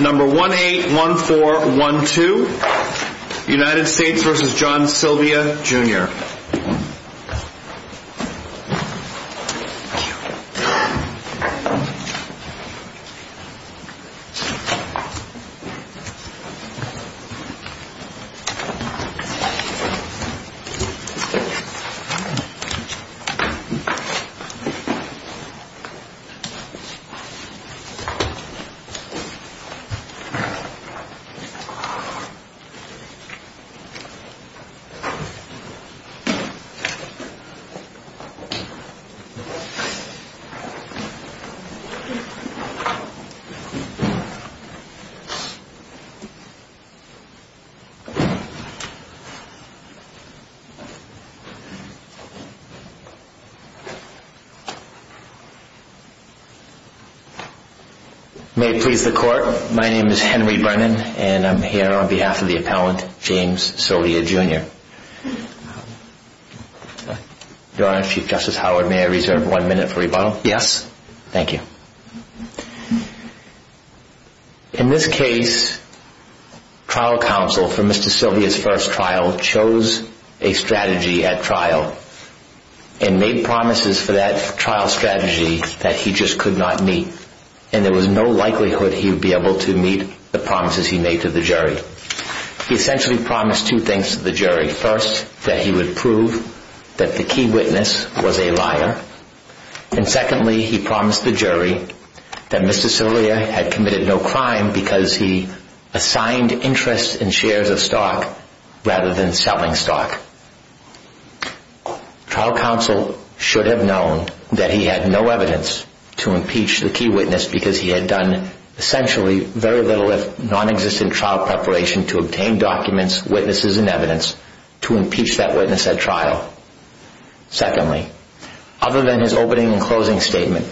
Number 181412, United States v. John Sylvia Jr. Mr. Court, my name is Henry Brennan and I'm here on behalf of the appellant, James Sylvia Jr. Your Honor, Chief Justice Howard, may I reserve one minute for rebuttal? Yes. Thank you. In this case, trial counsel for Mr. Sylvia's first trial chose a strategy at trial and made promises for that trial strategy that he just could not meet and there was no likelihood he would be able to meet the promises he made to the jury. He essentially promised two things to the jury. First, that he would prove that the key witness was a liar. And secondly, he promised the jury that Mr. Sylvia had committed no crime because he assigned interest in shares of stock rather than selling stock. Trial counsel should have known that he had no evidence to impeach the key witness because he had done essentially very little if nonexistent trial preparation to obtain documents, witnesses, and evidence to impeach that witness at trial. Secondly, other than his opening and closing statement,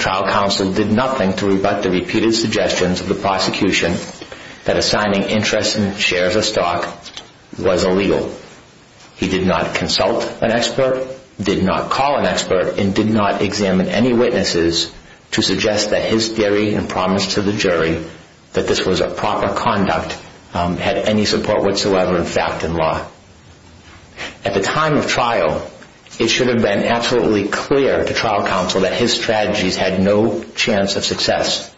trial counsel did nothing to rebut the repeated suggestions of the prosecution that assigning interest in shares of stock was illegal. He did not consult an expert, did not call an expert, and did not examine any witnesses to suggest that his theory and promise to the jury that this was a proper conduct had any support whatsoever in fact and law. At the time of trial, it should have been absolutely clear to trial counsel that his strategies had no chance of success.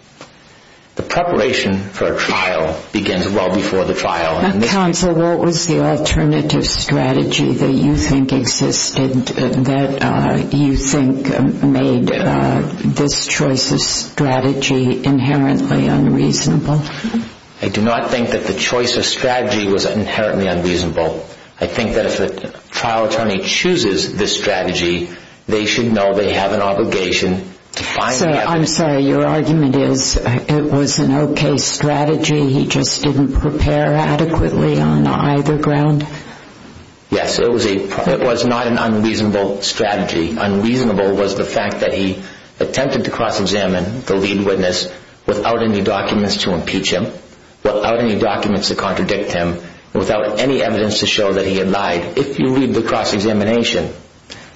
The preparation for a trial begins well before the trial. Counsel, what was the alternative strategy that you think existed that you think made this choice of strategy inherently unreasonable? I do not think that the choice of strategy was inherently unreasonable. I think that if a trial attorney chooses this strategy, they should know they have an obligation to find evidence. I'm sorry, your argument is it was an okay strategy, he just didn't prepare adequately on either ground? Yes, it was not an unreasonable strategy. Unreasonable was the fact that he attempted to cross-examine the lead witness without any documents to impeach him, without any documents to contradict him, without any evidence to show that he had lied. If you read the cross-examination,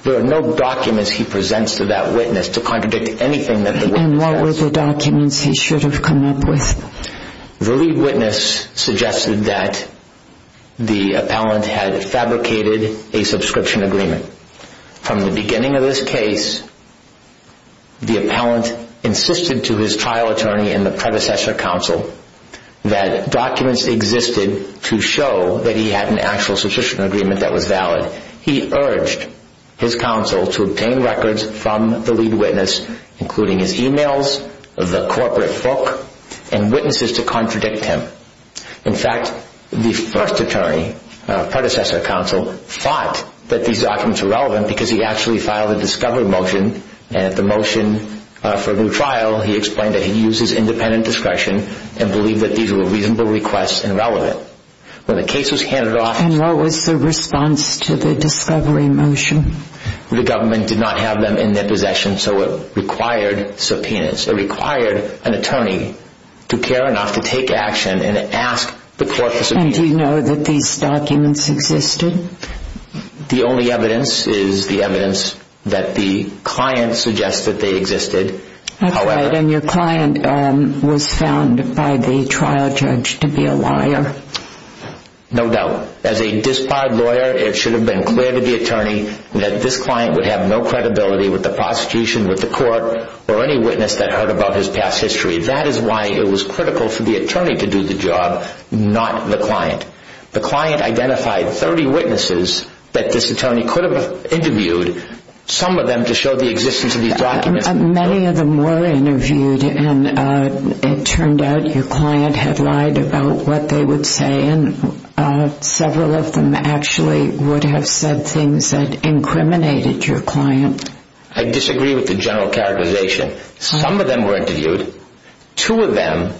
there are no documents he presents to that witness to contradict anything that the witness has. And what were the documents he should have come up with? The lead witness suggested that the appellant had fabricated a subscription agreement. From the beginning of this case, the appellant insisted to his trial attorney and the predecessor counsel that documents existed to show that he had an actual subscription agreement that was valid. He urged his counsel to obtain records from the lead witness, including his e-mails, the corporate book, and witnesses to contradict him. In fact, the first attorney, predecessor counsel, thought that these documents were relevant because he actually filed a discovery motion, and at the motion for a new trial, he explained that he used his independent discretion and believed that these were reasonable requests and relevant. And what was the response to the discovery motion? The government did not have them in their possession, so it required subpoenas. It required an attorney to care enough to take action and ask the court for subpoenas. And do you know that these documents existed? The only evidence is the evidence that the client suggested they existed. And your client was found by the trial judge to be a liar. No doubt. As a disqualified lawyer, it should have been clear to the attorney that this client would have no credibility with the prosecution, with the court, or any witness that heard about his past history. That is why it was critical for the attorney to do the job, not the client. The client identified 30 witnesses that this attorney could have interviewed, some of them to show the existence of these documents. Many of them were interviewed, and it turned out your client had lied about what they would say, and several of them actually would have said things that incriminated your client. I disagree with the general characterization. Some of them were interviewed. Two of them,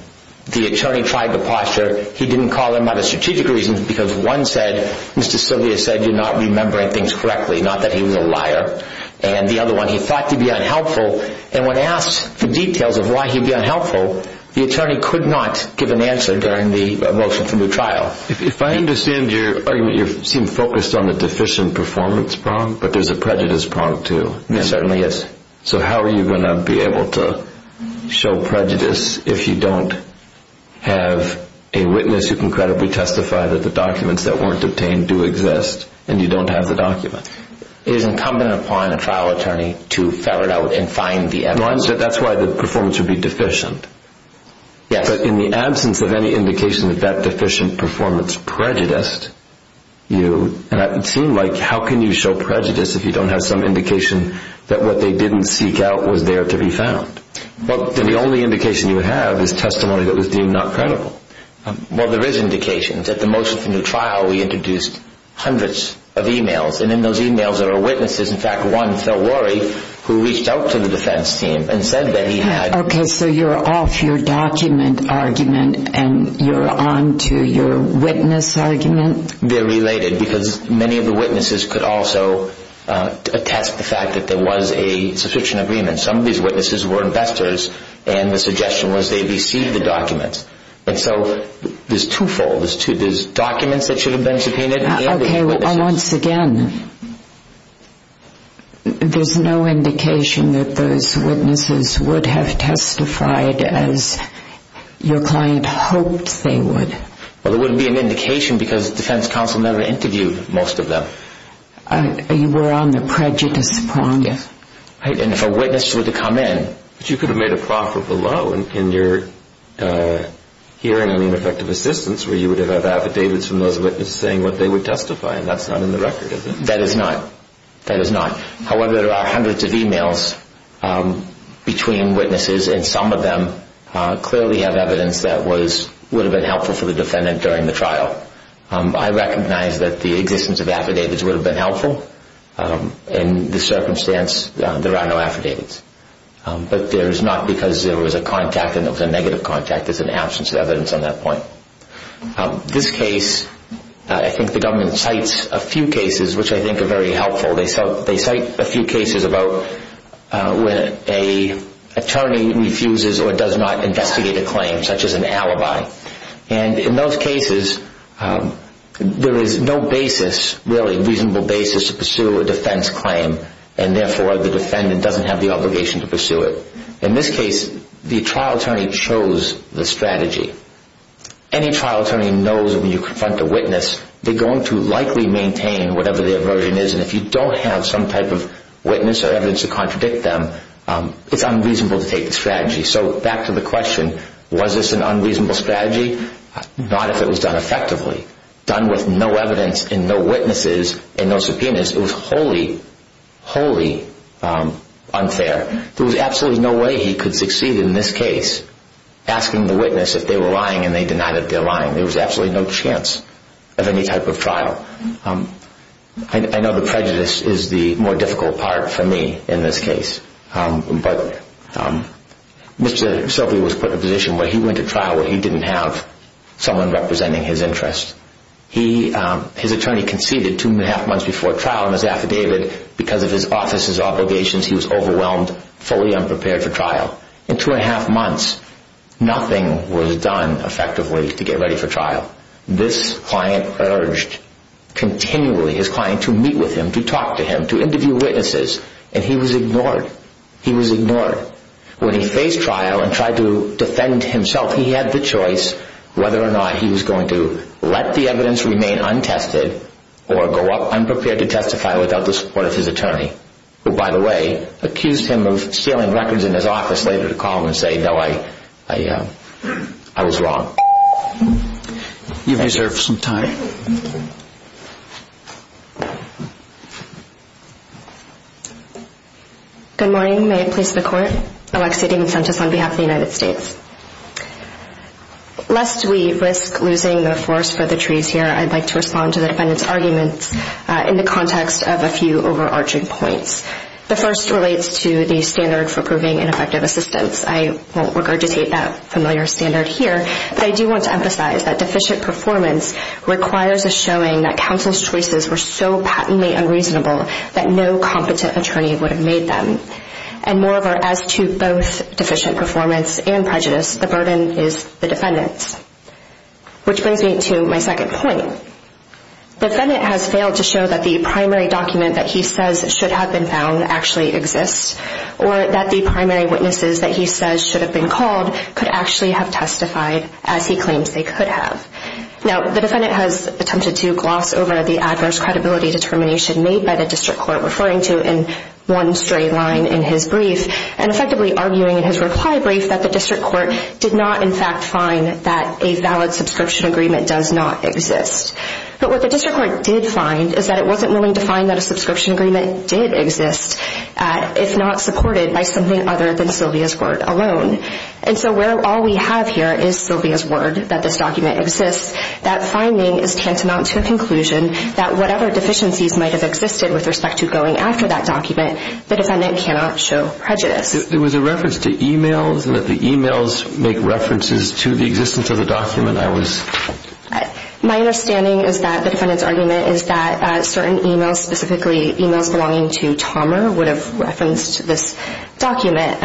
the attorney tried to posture he didn't call them out of strategic reasons because one said, Mr. Silvia said you're not remembering things correctly, not that he was a liar. And the other one, he thought to be unhelpful, and when asked the details of why he'd be unhelpful, the attorney could not give an answer during the motion from the trial. If I understand your argument, you seem focused on the deficient performance prong, but there's a prejudice prong too. There certainly is. So how are you going to be able to show prejudice if you don't have a witness who can credibly testify that the documents that weren't obtained do exist, and you don't have the documents? It is incumbent upon a trial attorney to ferret out and find the evidence. That's why the performance would be deficient. Yes. But in the absence of any indication that that deficient performance prejudiced you, it seemed like how can you show prejudice if you don't have some indication that what they didn't seek out was there to be found? The only indication you have is testimony that was deemed not credible. Well, there is indication. At the motion from the trial, we introduced hundreds of e-mails, and in those e-mails there are witnesses. In fact, one, Phil Worre, who reached out to the defense team and said that he had... Okay. So you're off your document argument and you're on to your witness argument? They're related because many of the witnesses could also attest the fact that there was a subscription agreement. And so there's twofold. There's documents that should have been subpoenaed. Okay. Once again, there's no indication that those witnesses would have testified as your client hoped they would. Well, there wouldn't be an indication because the defense counsel never interviewed most of them. You were on the prejudice prong. Yes. And if a witness were to come in...... hearing ineffective assistance where you would have had affidavits from those witnesses saying what they would testify, and that's not in the record, is it? That is not. That is not. However, there are hundreds of e-mails between witnesses, and some of them clearly have evidence that would have been helpful for the defendant during the trial. I recognize that the existence of affidavits would have been helpful. In this circumstance, there are no affidavits. But there's not because there was a contact and it was a negative contact. There's an absence of evidence on that point. This case, I think the government cites a few cases which I think are very helpful. They cite a few cases about when an attorney refuses or does not investigate a claim, such as an alibi. And in those cases, there is no basis, really, reasonable basis to pursue a defense claim, and therefore the defendant doesn't have the obligation to pursue it. In this case, the trial attorney chose the strategy. Any trial attorney knows that when you confront a witness, they're going to likely maintain whatever their version is, and if you don't have some type of witness or evidence to contradict them, it's unreasonable to take the strategy. So back to the question, was this an unreasonable strategy? Not if it was done effectively. Done with no evidence and no witnesses and no subpoenas, it was wholly, wholly unfair. There was absolutely no way he could succeed in this case, asking the witness if they were lying and they denied that they were lying. There was absolutely no chance of any type of trial. I know the prejudice is the more difficult part for me in this case, but Mr. Silvey was put in a position where he went to trial where he didn't have someone representing his interests. His attorney conceded two and a half months before trial on his affidavit because of his office's obligations. He was overwhelmed, fully unprepared for trial. In two and a half months, nothing was done effectively to get ready for trial. This client urged continually his client to meet with him, to talk to him, to interview witnesses, and he was ignored. He was ignored. When he faced trial and tried to defend himself, he had the choice whether or not he was going to let the evidence remain untested or go up unprepared to testify without the support of his attorney, who, by the way, accused him of stealing records in his office later to call him and say, No, I was wrong. You've reserved some time. Thank you. Good morning. May it please the Court? Alexia Diamantis on behalf of the United States. Lest we risk losing the forest for the trees here, I'd like to respond to the defendant's arguments in the context of a few overarching points. The first relates to the standard for proving ineffective assistance. I won't regurgitate that familiar standard here, but I do want to emphasize that deficient performance requires a showing that counsel's choices were so patently unreasonable that no competent attorney would have made them. And moreover, as to both deficient performance and prejudice, the burden is the defendant's, which brings me to my second point. The defendant has failed to show that the primary document that he says should have been found actually exists or that the primary witnesses that he says should have been called could actually have testified as he claims they could have. Now, the defendant has attempted to gloss over the adverse credibility determination made by the district court, referring to it in one straight line in his brief and effectively arguing in his reply brief that the district court did not in fact find that a valid subscription agreement does not exist. But what the district court did find is that it wasn't willing to find that a subscription agreement did exist if not supported by something other than Sylvia's word alone. And so where all we have here is Sylvia's word that this document exists, that finding is tantamount to a conclusion that whatever deficiencies might have existed with respect to going after that document, the defendant cannot show prejudice. There was a reference to e-mails and that the e-mails make references to the existence of the document. My understanding is that the defendant's argument is that certain e-mails, specifically e-mails belonging to Tommer, would have referenced this document.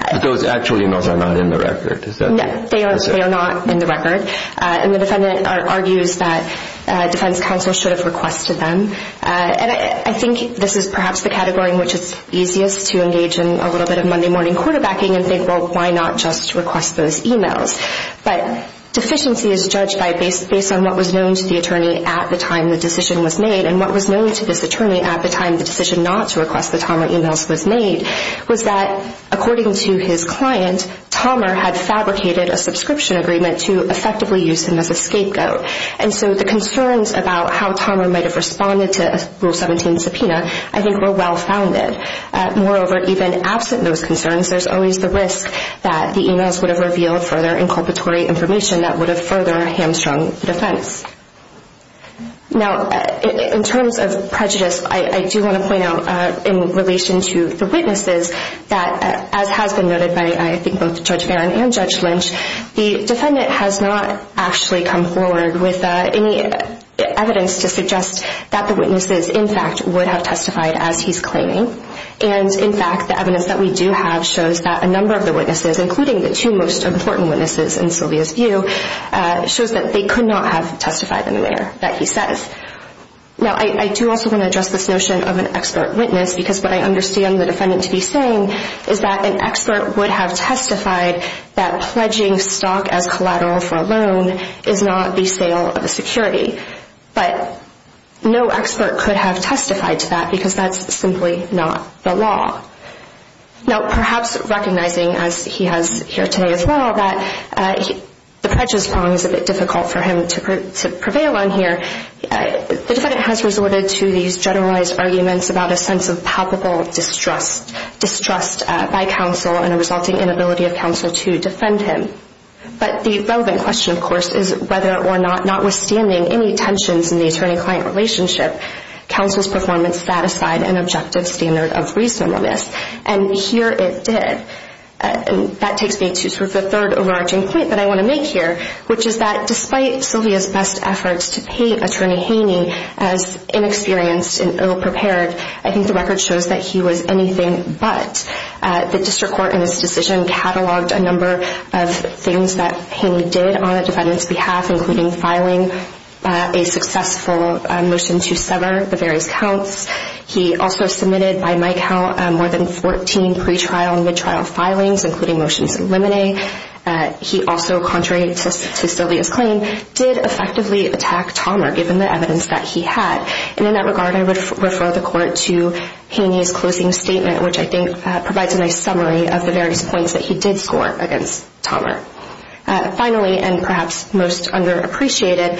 But those actual e-mails are not in the record. They are not in the record. And the defendant argues that defense counsel should have requested them. And I think this is perhaps the category in which it's easiest to engage in a little bit of Monday morning quarterbacking and think, well, why not just request those e-mails? But deficiency is judged based on what was known to the attorney at the time the decision was made. And what was known to this attorney at the time the decision not to request the Tommer e-mails was made was that according to his client, Tommer had fabricated a subscription agreement to effectively use him as a scapegoat. And so the concerns about how Tommer might have responded to a Rule 17 subpoena I think were well-founded. Moreover, even absent those concerns, there's always the risk that the e-mails would have revealed further inculpatory information that would have further hamstrung defense. Now, in terms of prejudice, I do want to point out in relation to the witnesses that, as has been noted by I think both Judge Barron and Judge Lynch, the defendant has not actually come forward with any evidence to suggest that the witnesses, in fact, would have testified as he's claiming. And, in fact, the evidence that we do have shows that a number of the witnesses, including the two most important witnesses in Sylvia's view, shows that they could not have testified in the manner that he says. Now, I do also want to address this notion of an expert witness because what I understand the defendant to be saying is that an expert would have testified that pledging stock as collateral for a loan is not the sale of a security. But no expert could have testified to that because that's simply not the law. Now, perhaps recognizing, as he has here today as well, that the prejudice prong is a bit difficult for him to prevail on here, the defendant has resorted to these generalized arguments about a sense of palpable distrust, distrust by counsel and a resulting inability of counsel to defend him. But the relevant question, of course, is whether or not, notwithstanding any tensions in the attorney-client relationship, counsel's performance satisfied an objective standard of reasonableness. And here it did. And that takes me to sort of the third overarching point that I want to make here, which is that despite Sylvia's best efforts to paint Attorney Haney as inexperienced and ill-prepared, I think the record shows that he was anything but. The district court in this decision cataloged a number of things that Haney did on the defendant's behalf, including filing a successful motion to sever the various counts. He also submitted, by my count, more than 14 pretrial and midtrial filings, including motions to eliminate. He also, contrary to Sylvia's claim, did effectively attack Tomer, given the evidence that he had. And in that regard, I would refer the court to Haney's closing statement, which I think provides a nice summary of the various points that he did score against Tomer. Finally, and perhaps most underappreciated,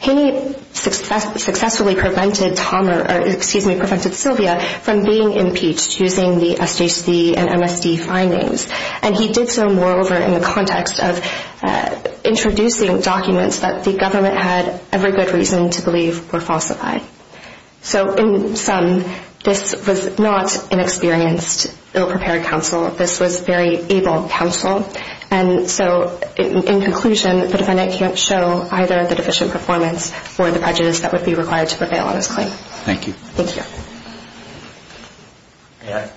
Haney successfully prevented Tomer or, excuse me, prevented Sylvia from being impeached using the SJC and MSD findings. And he did so, moreover, in the context of introducing documents that the government had every good reason to believe were falsified. So in sum, this was not an experienced, ill-prepared counsel. This was very able counsel. And so in conclusion, the defendant can't show either the deficient performance or the prejudice that would be required to prevail on his claim. Thank you. Thank you. May I?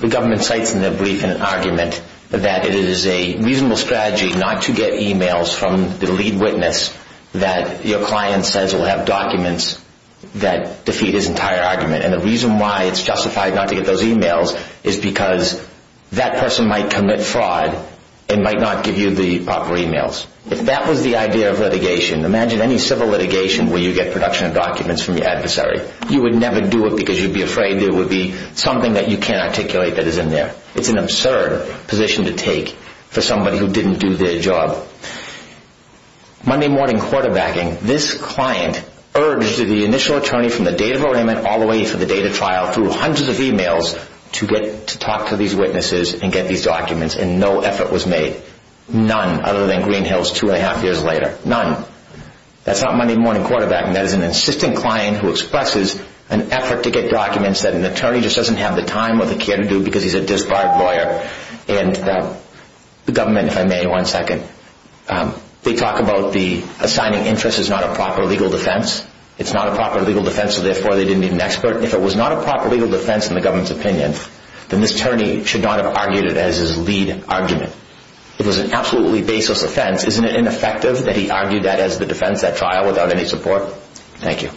The government cites in their brief an argument that it is a reasonable strategy not to get e-mails from the lead witness that your client says will have documents that defeat his entire argument. And the reason why it's justified not to get those e-mails is because that person might commit fraud If that was the idea of litigation, imagine any civil litigation where you get production of documents from your adversary. You would never do it because you'd be afraid there would be something that you can't articulate that is in there. It's an absurd position to take for somebody who didn't do their job. Monday morning quarterbacking, this client urged the initial attorney from the date of arraignment all the way to the date of trial through hundreds of e-mails to talk to these witnesses and get these documents, and no effort was made. None, other than Green Hills two and a half years later. None. That's not Monday morning quarterbacking. That is an insistent client who expresses an effort to get documents that an attorney just doesn't have the time or the care to do because he's a disbarred lawyer. And the government, if I may, one second, they talk about the assigning interest is not a proper legal defense. It's not a proper legal defense, so therefore they didn't need an expert. If it was not a proper legal defense in the government's opinion, then this attorney should not have argued it as his lead argument. It was an absolutely baseless offense. Isn't it ineffective that he argued that as the defense at trial without any support? Thank you.